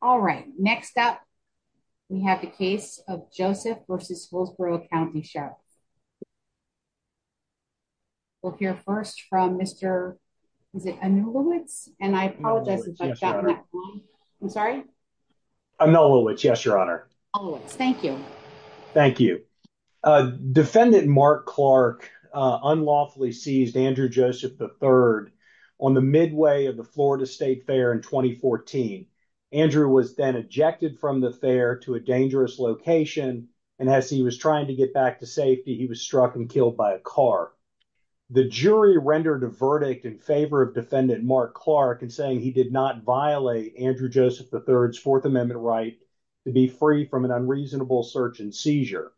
All right. Next up, we have the case of Joseph v. Hillsborough County Sheriff. We'll hear first from Mr. Anulowicz, and I apologize if I've gotten that wrong. I'm sorry? Anulowicz, yes, Your Honor. Anulowicz, thank you. Thank you. Defendant Mark Clark unlawfully seized Andrew Joseph III on the midway of the state fair in 2014. Andrew was then ejected from the fair to a dangerous location, and as he was trying to get back to safety, he was struck and killed by a car. The jury rendered a verdict in favor of Defendant Mark Clark in saying he did not violate Andrew Joseph III's Fourth Amendment right to be free from an unreasonable search and seizure.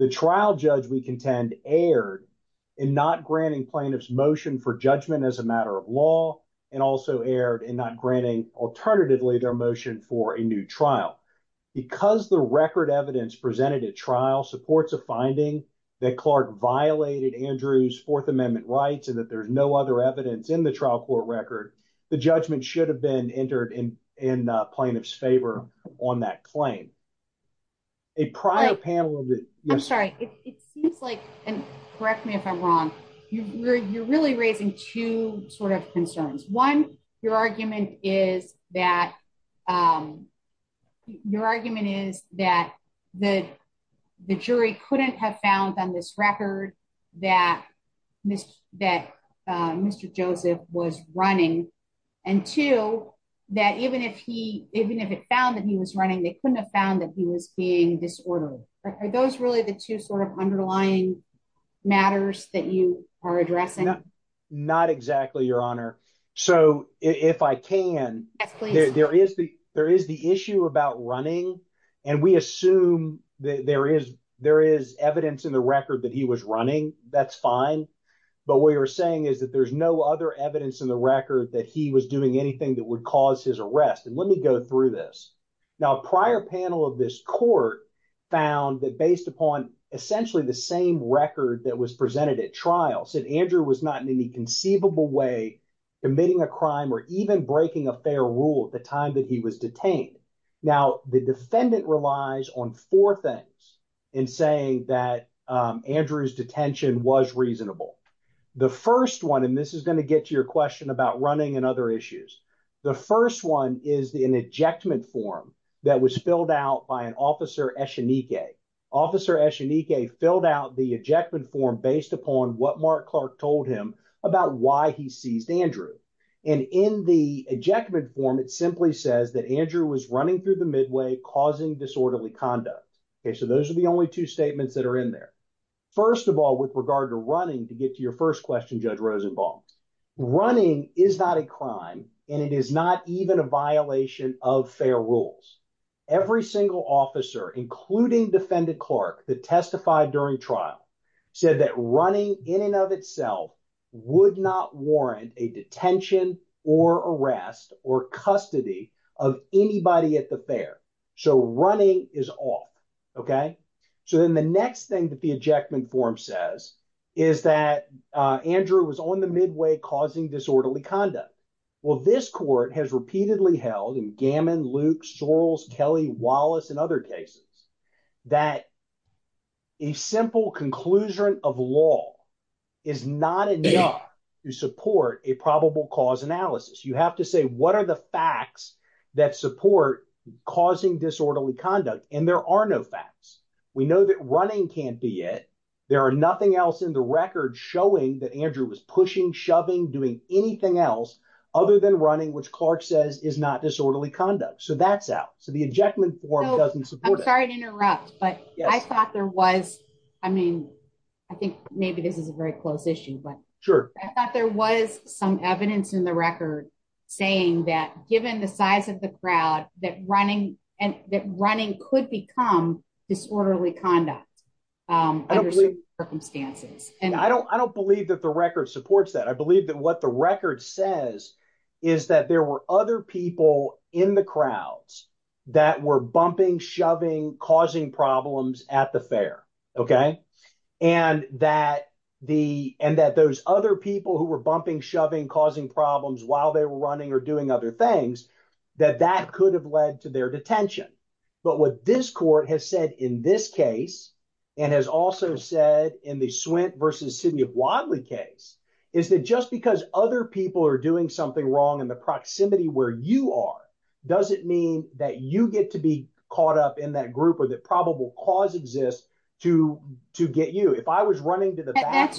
The trial judge we contend erred in not granting plaintiffs motion for judgment as a matter of law and also erred in not granting, alternatively, their motion for a new trial. Because the record evidence presented at trial supports a finding that Clark violated Andrew's Fourth Amendment rights and that there's no other evidence in the trial court record, the judgment should have been entered in plaintiff's favor on that claim. A prior panel of the... I'm sorry. It seems like, and correct me if I'm wrong, you're really raising two sort of concerns. One, your argument is that the jury couldn't have found on this record that Mr. Joseph was running. And two, that even if it found that he was running, they couldn't have found that he was being disordered. Are those really the two sort of underlying matters that you are addressing? Not exactly, Your Honor. So if I can... Yes, please. There is the issue about running, and we assume that there is evidence in the record that he was running. That's fine. But what you're saying is that there's no other evidence in the record that he was doing anything that would cause his arrest. And let me go through this. Now, a prior panel of this court found that based upon essentially the same record that was presented at trial, said Andrew was not in any conceivable way committing a crime or even breaking a fair rule at the time that he was detained. Now, the defendant relies on four things in saying that Andrew's detention was reasonable. The first one, and this is going to get to your question about running and other issues. The first one is an ejectment form that was filled out by an officer Eshenique. Officer Eshenique filled out the ejectment form based upon what Mark Clark told him about why he seized Andrew. And in the ejectment form, it simply says that Andrew was running through the midway, causing disorderly conduct. Okay, so those are the only two statements that are in there. First of all, with regard to running, to get to your first question, Judge Rosenbaum, running is not a crime and it is not even a violation of fair rules. Every single officer, including defendant Clark, that testified during trial said that running in and of itself would not warrant a detention or arrest or custody of anybody at the fair. So running is off. Okay. So then the next thing that the ejectment form says is that Andrew was on the midway causing disorderly conduct. Well, this court has repeatedly held in Gammon, Luke, Sorrells, Kelly, Wallace, and other cases that a simple conclusion of law is not enough to support a probable cause analysis. You have to say, what are the facts that support causing disorderly conduct? And there are no facts. We know that running can't be it. There are nothing else in the record showing that Andrew was pushing, shoving, doing anything else other than running, which Clark says is not disorderly conduct. So that's out. So the ejectment form doesn't support it. I'm sorry to interrupt, but I thought there was, I mean, I think maybe this is a very close issue, but I thought there was some evidence in the crowd that running could become disorderly conduct. I don't believe that the record supports that. I believe that what the record says is that there were other people in the crowds that were bumping, shoving, causing problems at the fair. Okay. And that those other people who were that, that could have led to their detention. But what this court has said in this case, and has also said in the Swint versus Sidney of Wadley case, is that just because other people are doing something wrong in the proximity where you are, does it mean that you get to be caught up in that group or that probable cause exists to get you? If I was running to the back-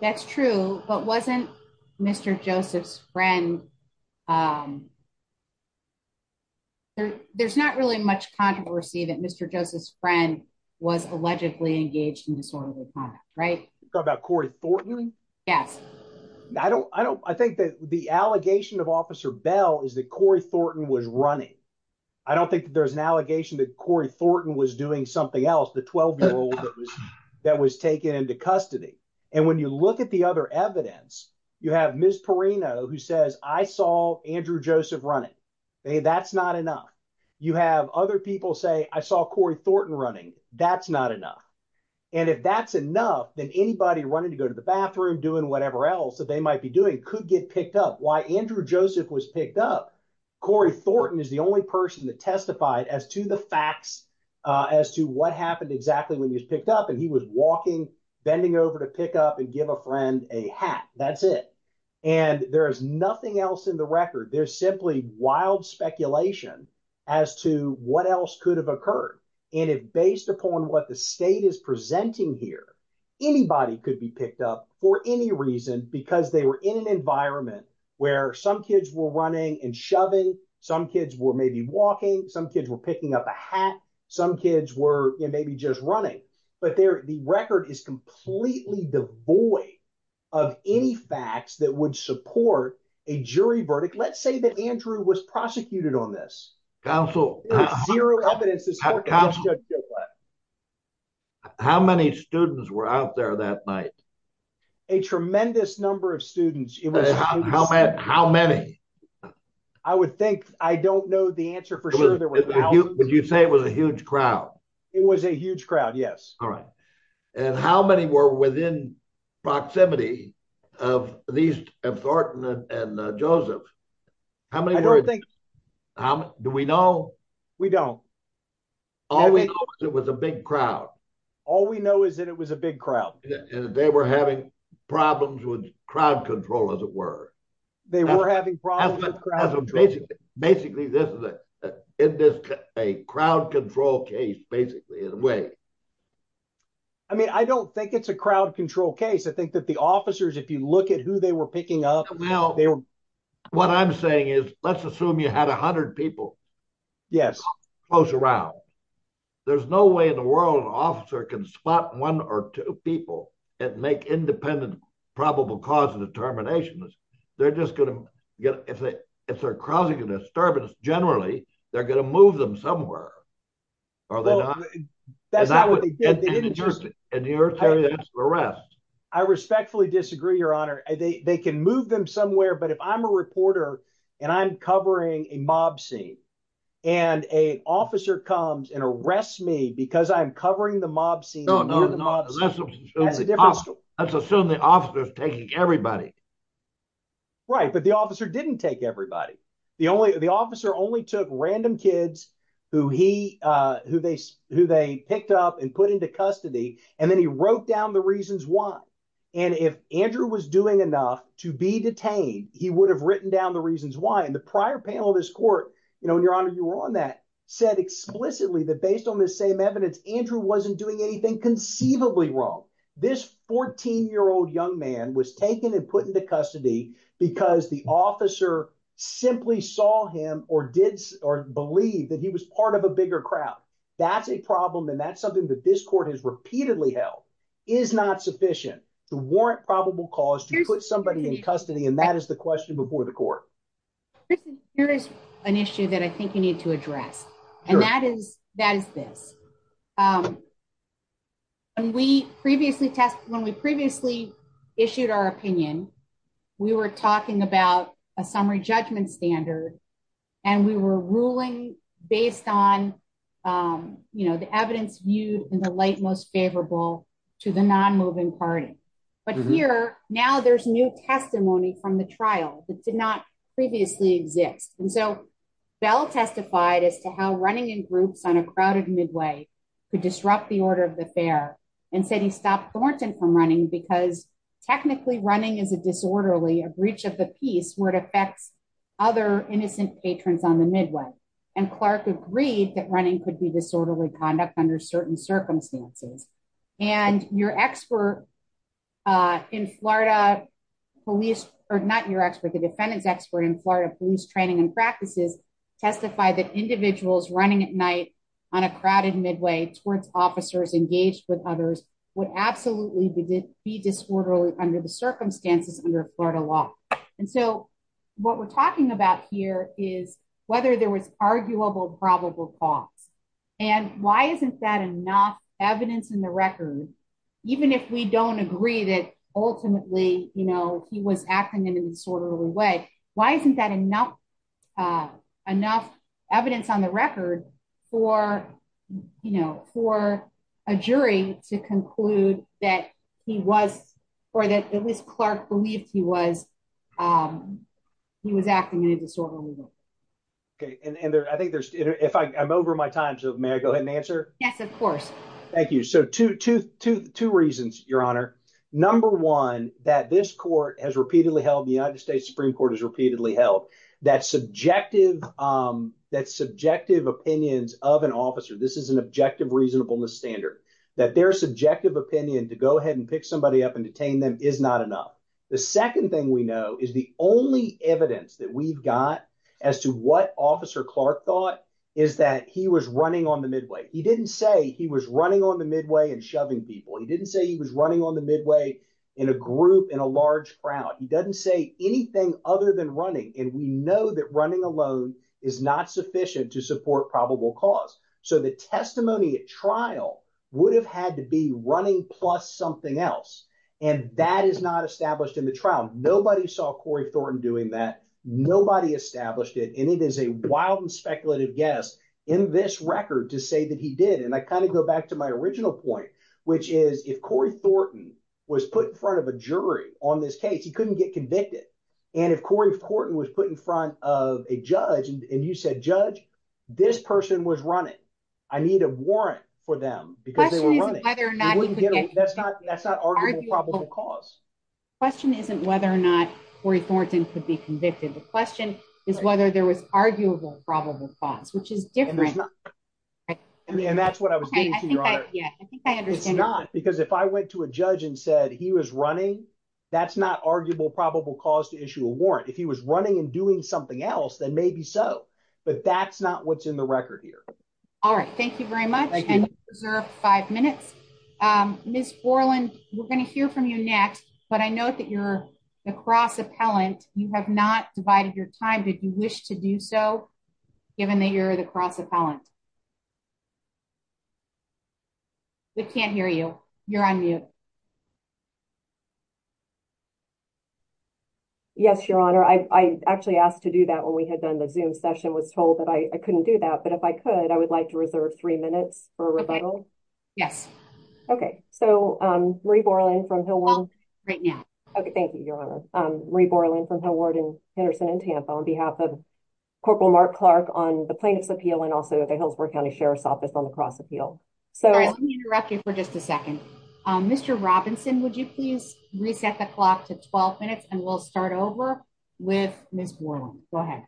That's true, but wasn't Mr. Joseph's friend, there's not really much controversy that Mr. Joseph's friend was allegedly engaged in disorderly conduct, right? You're talking about Corey Thornton? Yes. I don't, I don't, I think that the allegation of officer Bell is that Corey Thornton was running. I don't think that there's an allegation that Corey Thornton was doing something else, the 12 year old that was taken into custody. And when you look at the other evidence, you have Ms. Perino who says, I saw Andrew Joseph running. That's not enough. You have other people say, I saw Corey Thornton running. That's not enough. And if that's enough, then anybody running to go to the bathroom, doing whatever else that they might be doing could get picked up. Why Andrew Joseph was picked up, Corey Thornton is the only person that testified as to the facts as to what happened exactly when he was picked up and he was walking, bending over to pick up and give a friend a hat. That's it. And there is nothing else in the record. There's simply wild speculation as to what else could have occurred. And if based upon what the state is presenting here, anybody could be picked up for any reason because they were in an environment where some kids were running and shoving, some kids were maybe walking, some kids were picking up a hat, some kids were maybe just running. But there, the record is completely devoid of any facts that would support a jury verdict. Let's say that Andrew was prosecuted on this. There's zero evidence to support that. How many students were out there that night? A tremendous number of students. How many? I would think, I don't know the answer for sure. Would you say it was a huge crowd? It was a huge crowd, yes. All right. And how many were within proximity of Thornton and Joseph? I don't think. Do we know? We don't. All we know is it was a big crowd. All we know is that it was a big crowd. And they were having problems with crowd control, as it were. They were having problems with crowd control. Basically, this is a crowd control case, basically, in a way. I mean, I don't think it's a crowd control case. I think that the officers, if you look at who they were picking up. What I'm saying is, let's assume you had 100 people. Yes. Close around. There's no way in the world an officer can spot one or two people and make independent probable cause determinations. They're just going to get, if they're causing a disturbance, generally, they're going to move them somewhere. Are they not? That's not what they did. They didn't arrest. I respectfully disagree, Your Honor. They can move them somewhere. But if I'm a reporter and I'm covering a mob scene, and an officer comes and arrests me because I'm covering the mob scene. No, no, no. That's a different story. Let's assume the officer's taking everybody. Right, but the officer didn't take everybody. The officer only took random kids who they picked up and put into custody, and then he wrote down the reasons why. If Andrew was doing enough to be detained, he would have written down the reasons why. The prior panel of this court, Your Honor, you were on that, said explicitly that based on this same evidence, Andrew wasn't doing anything conceivably wrong. This 14-year-old young man was taken and put into custody because the officer simply saw him, or did, or believed that he was part of a bigger crowd. That's a problem, and that's something that this court has repeatedly held, is not sufficient to warrant probable cause to put somebody in custody, and that is the question before the court. Kristen, here is an issue that I think you need to address, and that is this. When we previously issued our opinion, we were talking about a summary judgment standard, and we were ruling based on the evidence viewed in the light most favorable to the non-moving party. But here, now there's new testimony from the trial that did not previously exist, and so Bell testified as to how running in groups on a crowded Midway could disrupt the order of the fair, and said he stopped Thornton from running because technically running is a disorderly, a breach of the peace, where it affects other innocent patrons on the Midway. And Clark agreed that running could be disorderly conduct under certain circumstances, and your expert in Florida police, or not your expert, the defendant's expert in Florida police training and practices, testified that individuals running at night on a crowded Midway towards officers engaged with others would absolutely be disorderly under the circumstances under Florida law. And so what we're talking about here is whether there was arguable probable cause, and why isn't that enough evidence in the record, even if we don't agree that ultimately, you know, he was acting in a disorderly way, why isn't that enough evidence on the record for, you know, for a jury to conclude that he was, or that at least Clark believed he was, he was acting in a disorderly way. Okay, and I think there's, if I'm over my time, so may I go ahead and answer? Yes, of course. Thank you. So two, two, two, two reasons, your honor. Number one, that this court has repeatedly held, the United States Supreme Court has repeatedly held that subjective, that subjective opinions of an officer, this is an objective reasonableness standard, that their subjective opinion to go ahead and pick somebody up and detain them is not enough. The second thing we know is the only evidence that we've got as to what officer Clark thought is that he was running on the Midway. He didn't say he was running on the Midway and shoving people. He didn't say he was running on the Midway in a group, in a large crowd. He doesn't say anything other than running. And we know that running alone is not sufficient to support probable cause. So the testimony at trial would have had to be running plus something else. And that is not established in the trial. Nobody saw Corey Thornton doing that. Nobody established it. It is a wild and speculative guess in this record to say that he did. And I kind of go back to my original point, which is if Corey Thornton was put in front of a jury on this case, he couldn't get convicted. And if Corey Thornton was put in front of a judge and you said, judge, this person was running. I need a warrant for them because they were running. That's not, that's not arguable probable cause. Question isn't whether or not Corey Thornton could be convicted. The question is whether there was arguable probable cause, which is different. And that's what I was getting to your honor. Yeah, I think I understand. It's not because if I went to a judge and said he was running, that's not arguable probable cause to issue a warrant. If he was running and doing something else, then maybe so. But that's not what's in the record here. All right. Thank you very much. And you deserve five minutes. Ms. Borland, we're going to hear from you next, but I note that you're the cross appellant. You have not divided your time. Did you wish to do so given that you're the cross appellant? We can't hear you. You're on mute. Yes, your honor. I actually asked to do that when we had done the zoom session was told that I couldn't do that. But if I could, I would like to reserve three minutes for rebuttal. Yes. Okay. So Marie Borland from Hillworm. Right now. Okay. Thank you, your honor. Marie Borland from Hillward in Henderson and Tampa on behalf of Corporal Mark Clark on the plaintiff's appeal and also the Hillsborough County Sheriff's Office on the cross appeal. So let me interrupt you for just a second. Mr. Robinson, would you please reset the clock to 12 minutes and we'll start over with Ms. Borland. Go ahead.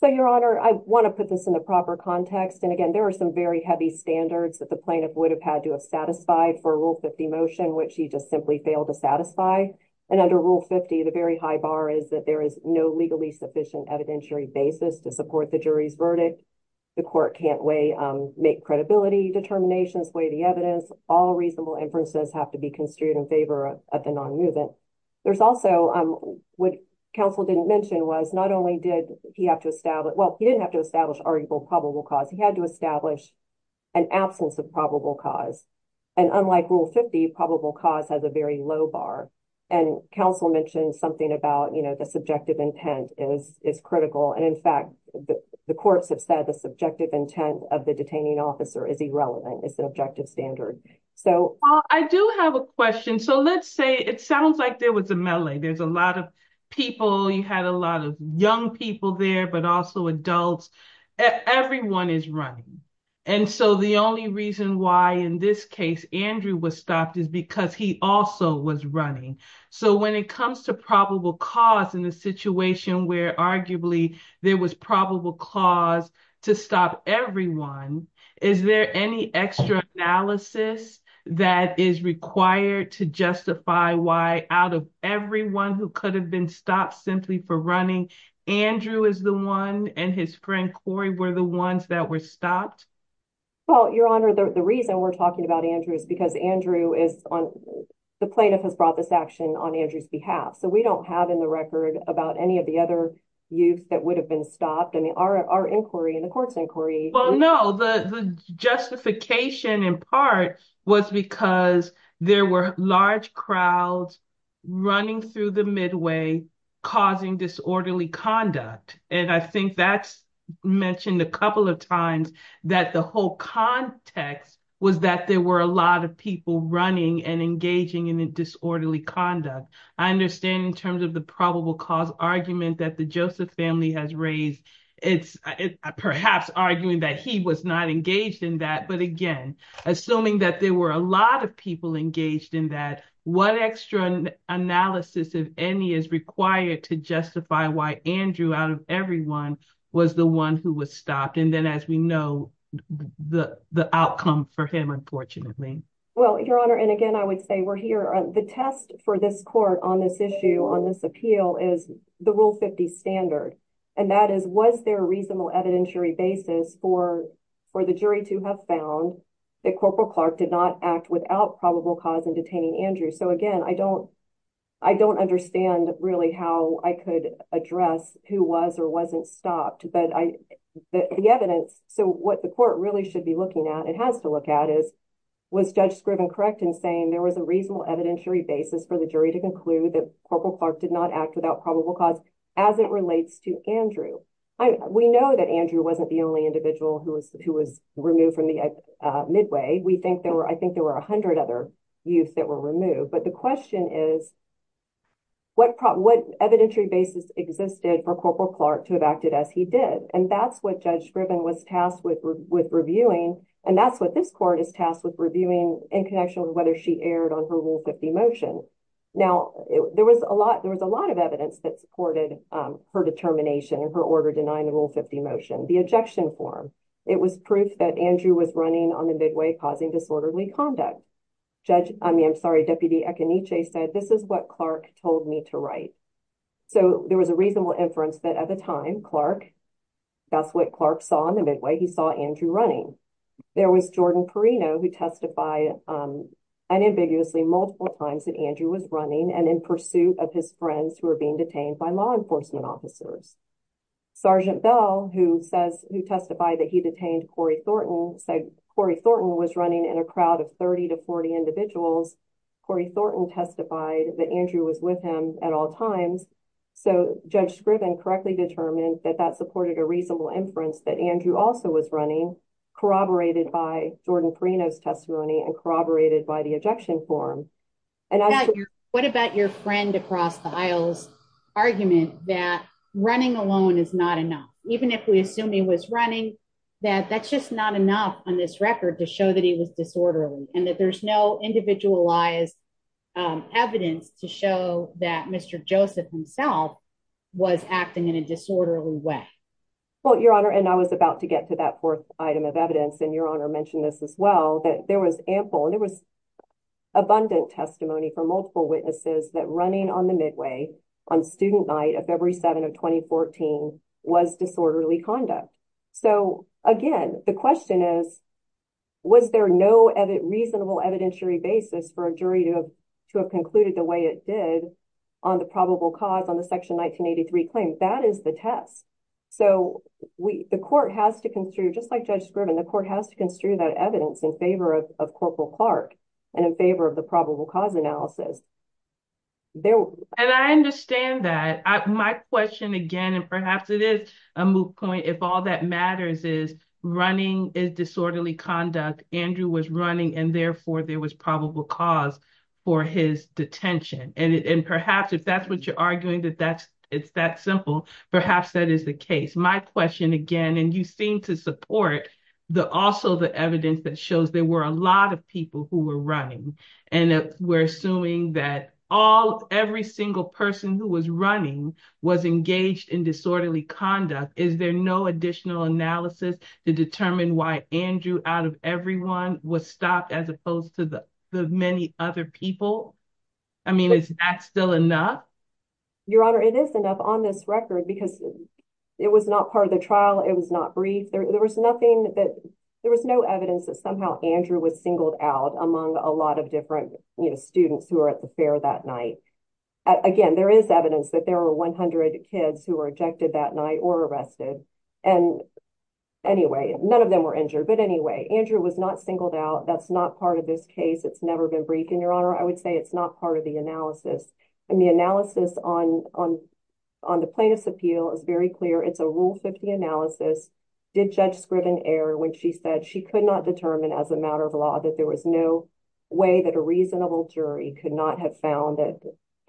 So your honor, I want to put this in the proper context. And again, there are some very heavy standards that the plaintiff would have had to have satisfied for a rule 50 motion, which he just simply failed to satisfy. And under rule 50, the very high bar is that there is no legally sufficient evidentiary basis to support the jury's verdict. The court can't weigh, make credibility determinations, weigh the evidence. All reasonable inferences have to be construed in favor of the non-movement. There's also what counsel didn't mention was not only did he have to establish, well, he didn't have to establish arguable probable cause. He had to establish an absence of probable cause. And unlike rule 50 probable cause has a very low bar. And counsel mentioned something about, you know, the subjective intent is critical. And in fact, the courts have said the subjective intent of the detaining officer is irrelevant. It's an objective standard. So I do have a question. So let's say it sounds like there was a melee. There's a lot of people. You had a lot of young people there, but also adults, everyone is running. And so the only reason why in this case, Andrew was stopped is because he also was running. So when it comes to probable cause in the situation where arguably there was probable cause to stop everyone, is there any extra analysis that is required to justify why out of everyone who could have been stopped simply for running, Andrew is the one and his friend Corey were the ones that were stopped? Well, your honor, the reason we're talking about Andrew is because Andrew is on the plaintiff has brought this action on Andrew's behalf. So we don't have in the record about any of the other youth that would have been stopped. I mean, our inquiry in the courts inquiry. Well, no, the justification in part was because there were large crowds running through the midway causing disorderly conduct. And I think that's mentioned a couple of times that the whole context was that there were a lot of people running and engaging in disorderly conduct. I understand in terms of the probable cause argument that the Joseph family has raised. It's perhaps arguing that he was not engaged in that. But again, assuming that there were a lot of people engaged in that, what extra analysis if any is required to justify why Andrew out of everyone was the one who was stopped? And then as we know, the outcome for him, unfortunately. Well, your honor, and again, I would say we're here. The test for this court on this issue on this appeal is the rule 50 standard. And that is was there a reasonable evidentiary basis for the jury to have found that Corporal Clark did not act without probable cause in detaining Andrew. So again, I don't I don't understand really how I could address who was or wasn't stopped, but the evidence. So what the court really should be looking at and has to look at is was Judge Scriven correct in saying there was a reasonable evidentiary basis for the jury to conclude that Corporal Clark did not act without probable cause as it relates to Andrew. We know that Andrew wasn't the only individual who was who was removed from the midway. We think there were I think there were 100 other youth that were removed. But the question is what what evidentiary basis existed for Corporal Clark to have acted as he did. And that's what Judge Scriven was tasked with with reviewing. And that's what this court is tasked with reviewing in connection with whether she erred on her rule 50 motion. Now, there was a lot there was a lot of evidence that supported her determination in her order denying the rule 50 motion. The ejection form. It was proof that Andrew was running on the midway, causing disorderly conduct. Judge, I mean, I'm sorry, Deputy Econice said this is what Clark told me to write. So there was a reasonable inference that at the time Clark, that's what Clark saw in the midway. He saw Andrew running. There was Jordan Perino who testified unambiguously multiple times that Andrew was running and in pursuit of his friends who were being detained by law enforcement officers. Sergeant Bell, who says who testified that he detained Corey Thornton, said Corey Thornton was running in a crowd of 30 to 40 individuals. Corey Thornton testified that Andrew was with him at all times. So Judge Scriven correctly determined that that supported a reasonable inference that Andrew also was running, corroborated by Jordan Perino's testimony and corroborated by the ejection form. And what about your friend across the aisles argument that running alone is not enough, even if we assume he was running, that that's just not enough on this record to show that he was disorderly and that there's no individualized evidence to show that Mr. Joseph himself was acting in a disorderly way. Well, Your Honor, and I was about to get to that fourth item of evidence, and Your Honor mentioned this as well, that there was ample and there was abundant testimony from multiple witnesses that running on the Midway on student night of February 7 of 2014 was disorderly conduct. So again, the question is, was there no reasonable evidentiary basis for a jury to have to have concluded the way it did on the probable cause on the Section 1983 claim? That is the test. So the court has to consider, just like Judge Scriven, the court has to consider that evidence in favor of Corporal Clark and in favor of the probable cause analysis. And I understand that. My question again, and perhaps it is a moot point, if all that matters is running is disorderly conduct, Andrew was running, and therefore there was probable cause for his detention. And perhaps if that's what you're arguing, that it's that simple, perhaps that is the case. My question again, and you seem to support also the evidence that shows there were a lot of people who were running. And we're assuming that every single person who was running was engaged in disorderly conduct. Is there no additional analysis to determine why Andrew out of everyone was stopped as opposed to the many other people? I mean, is that still enough? Your Honor, it is enough on this record because it was not part of the trial. It was not brief. There was nothing that there was no evidence that somehow Andrew was singled out among a lot of different students who are at the fair that night. Again, there is evidence that there were 100 kids who were ejected that night or arrested. And anyway, none of them were injured. But anyway, Andrew was not singled out. That's not part of this case. It's never been brief. And Your Honor, I would say it's not part of the analysis. And the analysis on the plaintiff's appeal is very clear. It's a Rule 50 analysis. Did Judge Scriven error when she said she could not determine as a matter of law that there was no way that a reasonable jury could not have found that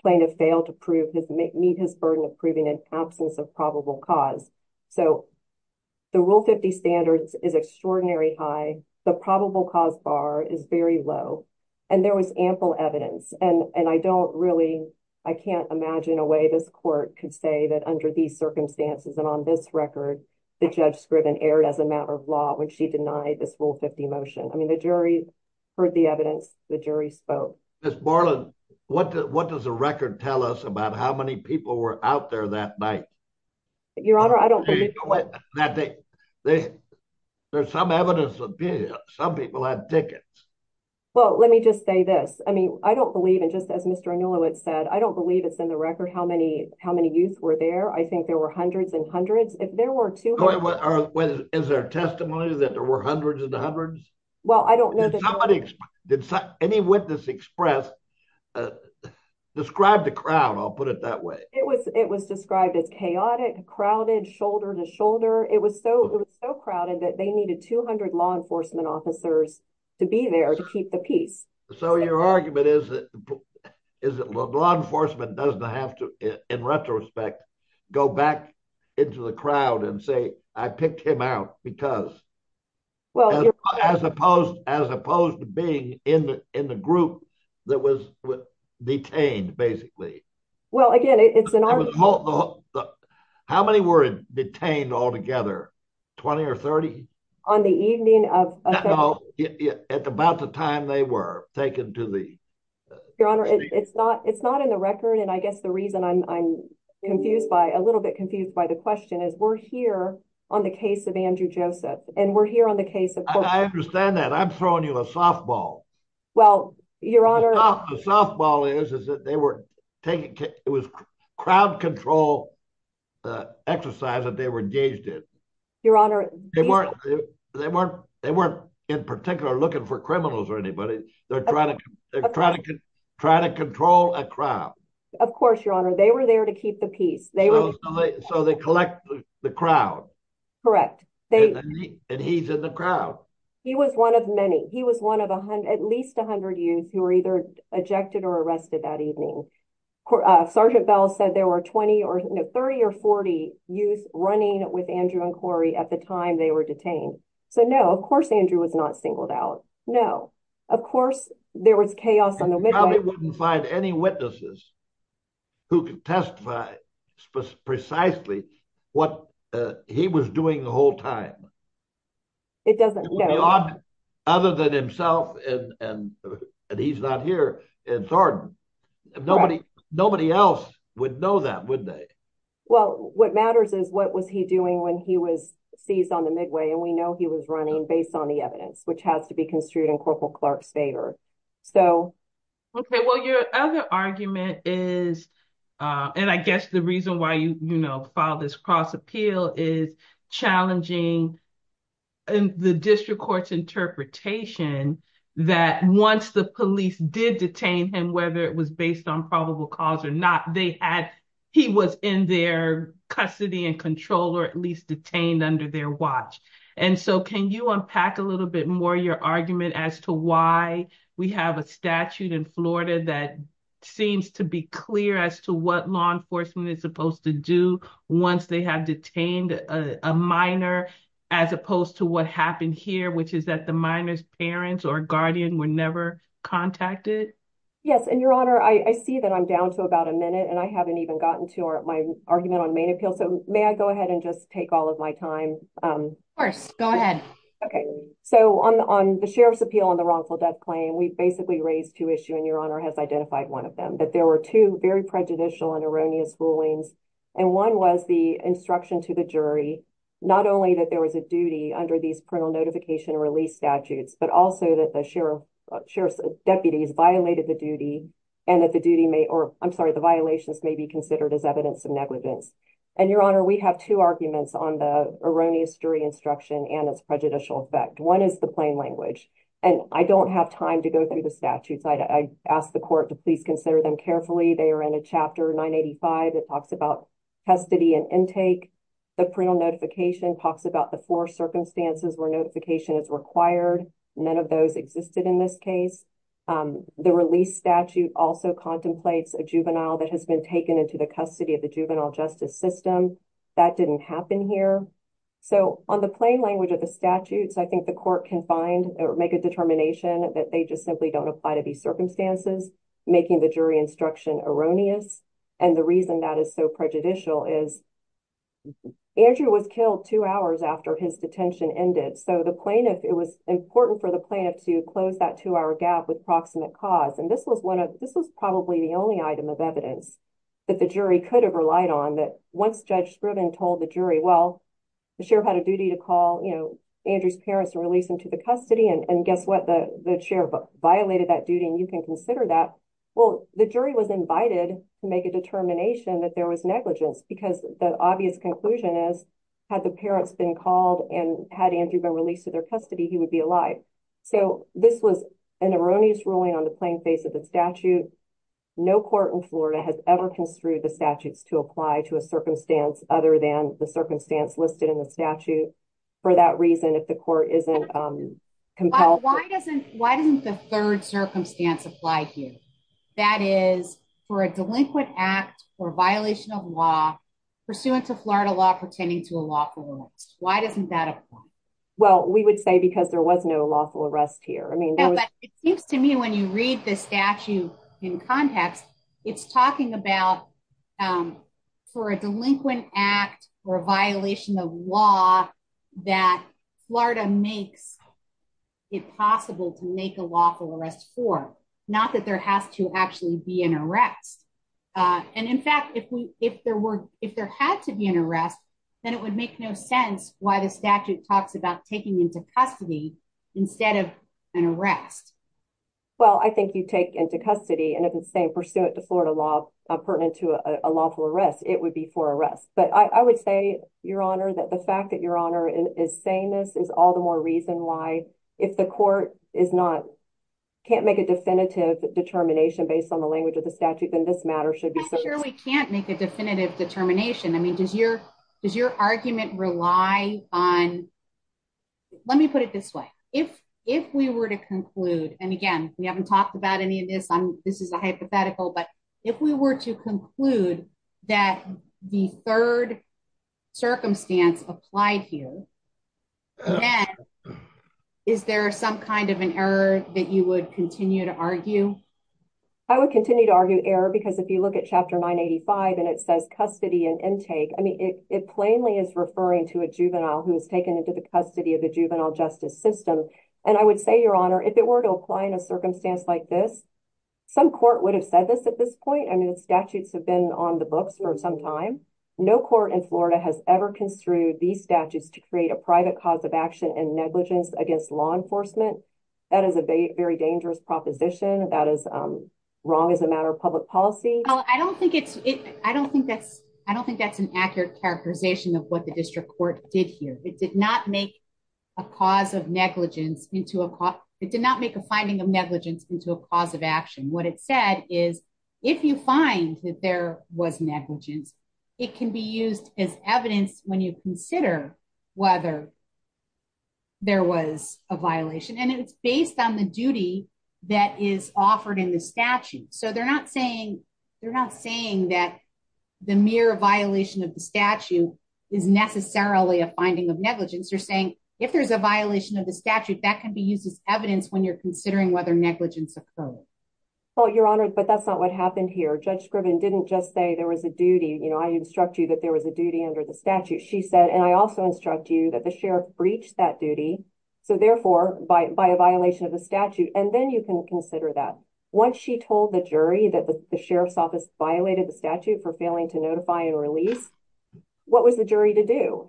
plaintiff failed to prove his meet his burden of proving an absence of probable cause? So the Rule 50 standards is extraordinarily high. The probable cause bar is very low. And there was ample evidence. And I don't really I can't imagine a way this court could say that under these circumstances and on this record, the judge Scriven erred as a matter of law when she denied this Rule 50 motion. I mean, the jury heard the evidence. The jury spoke. Miss Marlin, what does the record tell us about how many people were out there that night? Your Honor, I don't think that they there's some evidence that some people had tickets. Well, let me just say this. I mean, I don't believe it. Just as Mr. Anula said, I don't believe it's in the record. How many how many youth were there? I think there were hundreds and hundreds. If there were two or whether is there testimony that there were hundreds and hundreds? Well, I don't know that somebody did any witness express described the crowd. I'll put it that way. It was it was described as chaotic, crowded, shoulder to shoulder. It was so it was so crowded that they needed 200 law enforcement officers to be there to keep the peace. So your argument is that is that law enforcement doesn't have to, in retrospect, go back into the crowd and say, I picked him out because. Well, as opposed as opposed to being in the in the group that was detained, basically. Well, again, it's an article. How many were detained altogether? 20 or 30 on the evening of about the time they were. Taken to the your honor, it's not it's not in the record. And I guess the reason I'm confused by a little bit confused by the question is we're here on the case of Andrew Joseph and we're here on the case of I understand that I'm throwing you a softball. Well, your honor, the softball is, is that they were taking it was crowd control exercise that they were engaged in your honor. They weren't they weren't they weren't in particular looking for criminals or anybody. They're trying to try to control a crowd. Of course, your honor. They were there to keep the peace. They were so they collect the crowd. Correct. They and he's in the crowd. He was one of many. He was one of at least 100 youth who were either ejected or arrested that evening. Sergeant Bell said there were 20 or 30 or 40 youth running with Andrew and Corey at the time they were detained. So, no, of course, Andrew was not singled out. No, of course, there was chaos. And I wouldn't find any witnesses who can testify precisely what he was doing the whole time. It doesn't matter other than himself and he's not here. And nobody, nobody else would know that, would they? Well, what matters is what was he doing when he was seized on the midway and we know he was running based on the evidence, which has to be construed in Corporal Clark's favor. So, OK, well, your other argument is and I guess the reason why you file this cross appeal is challenging the district court's interpretation that once the police did detain him, whether it was based on probable cause or not, they had he was in their custody and control or at least detained under their watch. And so can you unpack a little bit more your argument as to why we have a statute in Florida that seems to be clear as to what law enforcement is supposed to do once they have detained a minor, as opposed to what happened here, which is that the minor's parents or guardian were never contacted? Yes. And, Your Honor, I see that I'm down to about a minute and I haven't even gotten to my argument on main appeal. So may I go ahead and just take all of my time? First, go ahead. OK, so on the sheriff's appeal on the wrongful death claim, we basically raised two issue and your honor has identified one of them, that there were two very prejudicial and erroneous rulings. And one was the instruction to the jury, not only that there was a duty under these criminal notification release statutes, but also that the sheriff sheriff's deputies violated the duty and that the duty may or I'm sorry, the violations may be considered as evidence of negligence. And, Your Honor, we have two arguments on the erroneous jury instruction and its prejudicial effect. One is the plain language. And I don't have time to go through the statutes. I ask the court to please consider them carefully. They are in a chapter 985. It talks about custody and intake. The criminal notification talks about the four circumstances where notification is required. None of those existed in this case. The release statute also contemplates a juvenile that has been taken into the custody of the criminal justice system. That didn't happen here. So on the plain language of the statutes, I think the court can find or make a determination that they just simply don't apply to these circumstances, making the jury instruction erroneous. And the reason that is so prejudicial is Andrew was killed two hours after his detention ended. So the plaintiff it was important for the plaintiff to close that two hour gap with proximate cause. And this was one of this was probably the only item of evidence that the jury could have relied on that once Judge Scriven told the jury, well, the sheriff had a duty to call Andrew's parents and release him to the custody. And guess what? The sheriff violated that duty. And you can consider that. Well, the jury was invited to make a determination that there was negligence because the obvious conclusion is had the parents been called and had Andrew been released to their custody, he would be alive. So this was an erroneous ruling on the plain face of the statute. No court in Florida has ever construed the statutes to apply to a circumstance other than the circumstance listed in the statute. For that reason, if the court isn't compelled, why doesn't why doesn't the third circumstance apply here? That is for a delinquent act or violation of law pursuant to Florida law, pretending to a lawful arrest. Why doesn't that apply? Well, we would say because there was no lawful arrest here. It seems to me when you read the statute in context, it's talking about for a delinquent act or a violation of law that Florida makes it possible to make a lawful arrest for not that there has to actually be an arrest. And in fact, if we if there were if there had to be an arrest, then it would make no sense why the statute talks about taking into custody instead of an arrest. Well, I think you take into custody and if the same pursuant to Florida law pertinent to a lawful arrest, it would be for arrest. But I would say, Your Honor, that the fact that Your Honor is saying this is all the more reason why if the court is not can't make a definitive determination based on the language of the statute, then this matter should be. So here we can't make a definitive determination. I mean, does your does your argument rely on. Let me put it this way. If if we were to conclude and again, we haven't talked about any of this. This is a hypothetical. But if we were to conclude that the third circumstance applied here. Is there some kind of an error that you would continue to argue? I would continue to argue error, because if you look at Chapter 985 and it says custody and intake, I mean, it plainly is referring to a juvenile who is taken into the custody of the juvenile justice system. And I would say, Your Honor, if it were to apply in a circumstance like this, some court would have said this at this point. I mean, the statutes have been on the books for some time. No court in Florida has ever construed these statutes to create a private cause of action and negligence against law enforcement. That is a very dangerous proposition. That is wrong as a matter of public policy. I don't think it's I don't think that's I don't think that's an accurate characterization of what the district court did here. It did not make a cause of negligence into a it did not make a finding of negligence into a cause of action. What it said is, if you find that there was negligence, it can be used as evidence when you consider whether there was a violation. And it's based on the duty that is offered in the statute. So they're not saying they're not saying that the mere violation of the statute is necessarily a finding of negligence. They're saying if there's a violation of the statute that can be used as evidence when you're considering whether negligence occurs. Well, Your Honor, but that's not what happened here. Judge Scriven didn't just say there was a duty. You know, I instruct you that there was a duty under the statute, she said. And I also instruct you that the sheriff breached that duty. So therefore, by a violation of the statute, and then you can consider that once she told the jury that the sheriff's office violated the statute for failing to notify and release, what was the jury to do?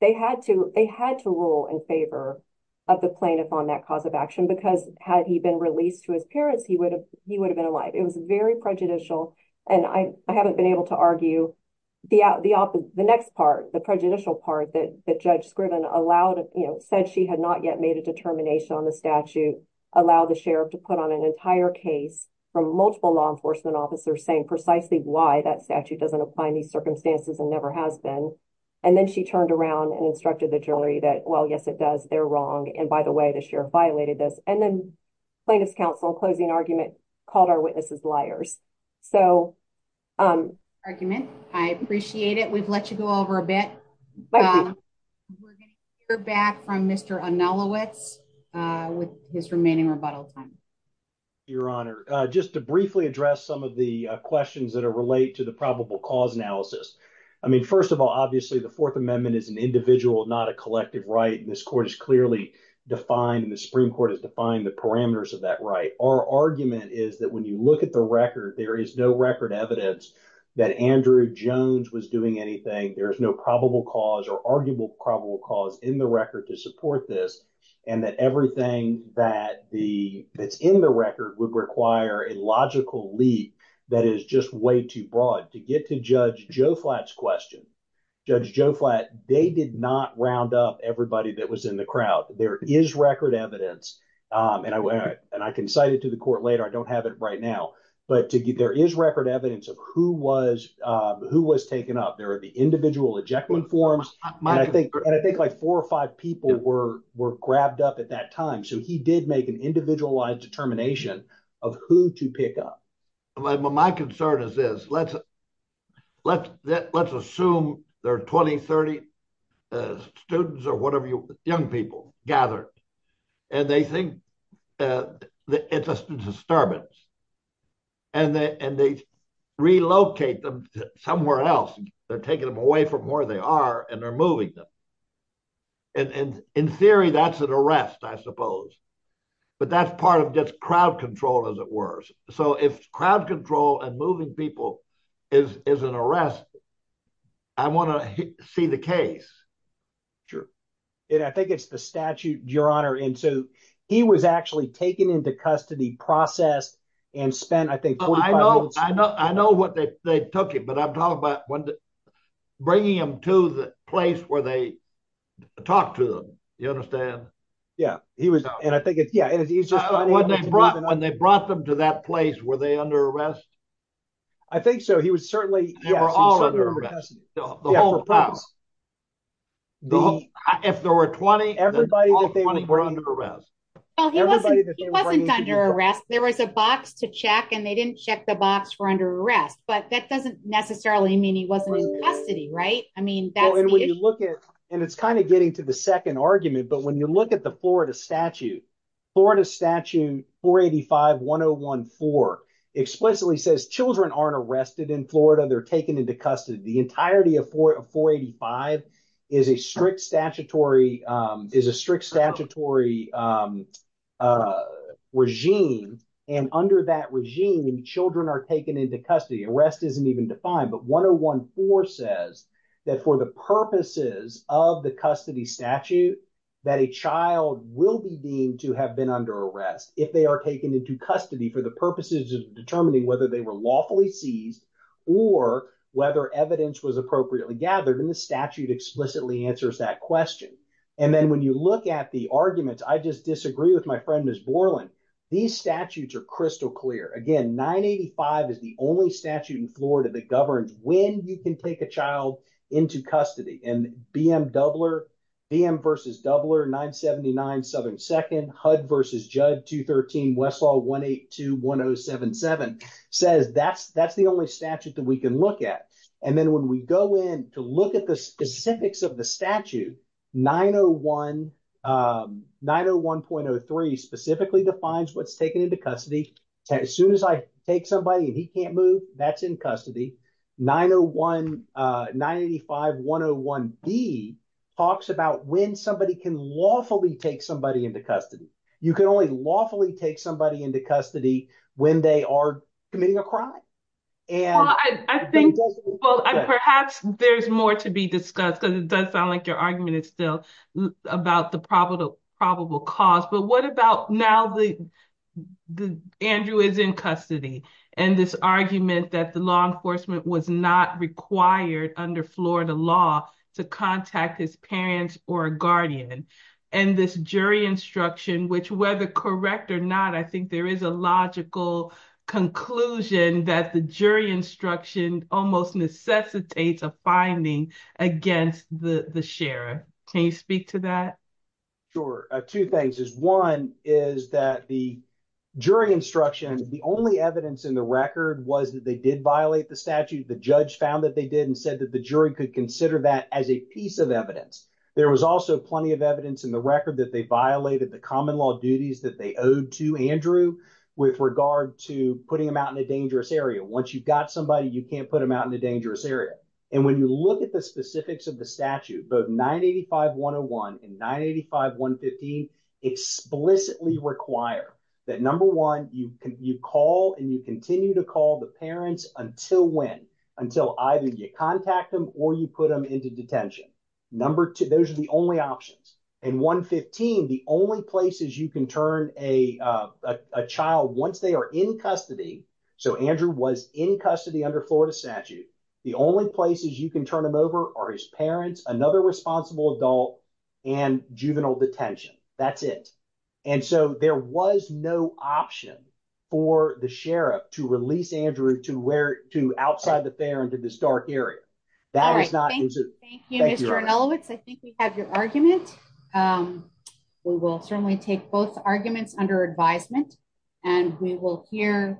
They had to rule in favor of the plaintiff on that cause of action because had he been released to his parents, he would have been alive. It was very prejudicial. And I haven't been able to argue the next part, the prejudicial part that Judge Scriven allowed, said she had not yet made a determination on the statute, allowed the sheriff to put an entire case from multiple law enforcement officers saying precisely why that statute doesn't apply in these circumstances and never has been. And then she turned around and instructed the jury that, well, yes, it does. They're wrong. And by the way, the sheriff violated this. And then plaintiff's counsel closing argument called our witnesses liars. So argument. I appreciate it. We've let you go over a bit. We're going to hear back from Mr. Onalewicz with his remaining rebuttal time. Your Honor, just to briefly address some of the questions that are relate to the probable cause analysis. I mean, first of all, obviously, the Fourth Amendment is an individual, not a collective right. And this court is clearly defined in the Supreme Court has defined the parameters of that right. Our argument is that when you look at the record, there is no record evidence that Andrew Jones was doing anything. There is no probable cause or arguable probable cause in the record to support this and that everything that the that's in the record would require a logical leap that is just way too broad to get to Judge Joe Flatt's question. Judge Joe Flatt, they did not round up everybody that was in the crowd. There is record evidence. And I can cite it to the court later. I don't have it right now. But there is record evidence of who was who was taken up. There are the individual ejection forms. And I think like four or five people were were grabbed up at that time. So he did make an individualized determination of who to pick up. My concern is this. Let's let's let's assume there are 20, 30 students or whatever young people gathered and they think it's a disturbance. And they and they relocate them somewhere else. They're taking them away from where they are and they're moving them. And in theory, that's an arrest, I suppose. But that's part of this crowd control, as it were. So if crowd control and moving people is is an arrest, I want to see the case. Sure. And I think it's the statute, Your Honor. And so he was actually taken into custody, processed and spent, I think, I know. I know. I know what they took it. But I'm talking about when bringing them to the place where they talk to them. Yeah. He was. And I think it's yeah. When they brought them to that place, were they under arrest? I think so. He was certainly. They were all under custody. If there were 20, everybody that they wanted were under arrest. Well, he wasn't under arrest. There was a box to check and they didn't check the box for under arrest. But that doesn't necessarily mean he wasn't in custody. Right. I mean, when you look at and it's kind of getting to the second argument. But when you look at the Florida statute, Florida Statute 485-1014 explicitly says children aren't arrested in Florida. They're taken into custody. The entirety of 485 is a strict statutory is a strict statutory regime. And under that regime, children are taken into custody. Arrest isn't even defined. But 101-4 says that for the purposes of the custody statute that a child will be deemed to have been under arrest if they are taken into custody for the purposes of determining whether they were lawfully seized or whether evidence was appropriately gathered. And the statute explicitly answers that question. And then when you look at the arguments, I just disagree with my friend, Ms. Borland. These statutes are crystal clear. Again, 985 is the only statute in Florida that governs when you can take a child into custody. And B.M. Dubler, B.M. v. Dubler, 979 Southern 2nd, HUD v. Judd 213, Westlaw 182-1077 says that's the only statute that we can look at. And then when we go in to look at the specifics of the statute, 901, 901.03 specifically defines what's taken into custody. As soon as I take somebody and he can't move, that's in custody. 901, 985-101-B talks about when somebody can lawfully take somebody into custody. You can only lawfully take somebody into custody when they are committing a crime. Well, perhaps there's more to be discussed because it does sound like your argument is still about the probable cause. But what about now Andrew is in custody and this argument that the law enforcement was not required under Florida law to contact his parents or a guardian and this jury instruction, which whether correct or not, I think there is a logical conclusion that the jury instruction almost necessitates a finding against the sheriff. Can you speak to that? Sure. Two things is one is that the jury instruction, the only evidence in the record was that they did violate the statute. The judge found that they did and said that the jury could consider that as a piece of There was also plenty of evidence in the record that they violated the common law duties that they owed to Andrew with regard to putting them out in a dangerous area. Once you've got somebody, you can't put them out in a dangerous area. And when you look at the specifics of the statute, both 985-101 and 985-115 explicitly require that number one, you call and you continue to call the parents until when? Until either you contact them or you put them into detention. Number two, those are the only options. And 115, the only places you can turn a child once they are in custody. So Andrew was in custody under Florida statute. The only places you can turn them over are his parents, another responsible adult and juvenile detention. That's it. And so there was no option for the sheriff to release Andrew to where to outside the fair into this dark area. That is not. Thank you, Mr. And I think we have your argument. We will certainly take both arguments under advisement and we will hear.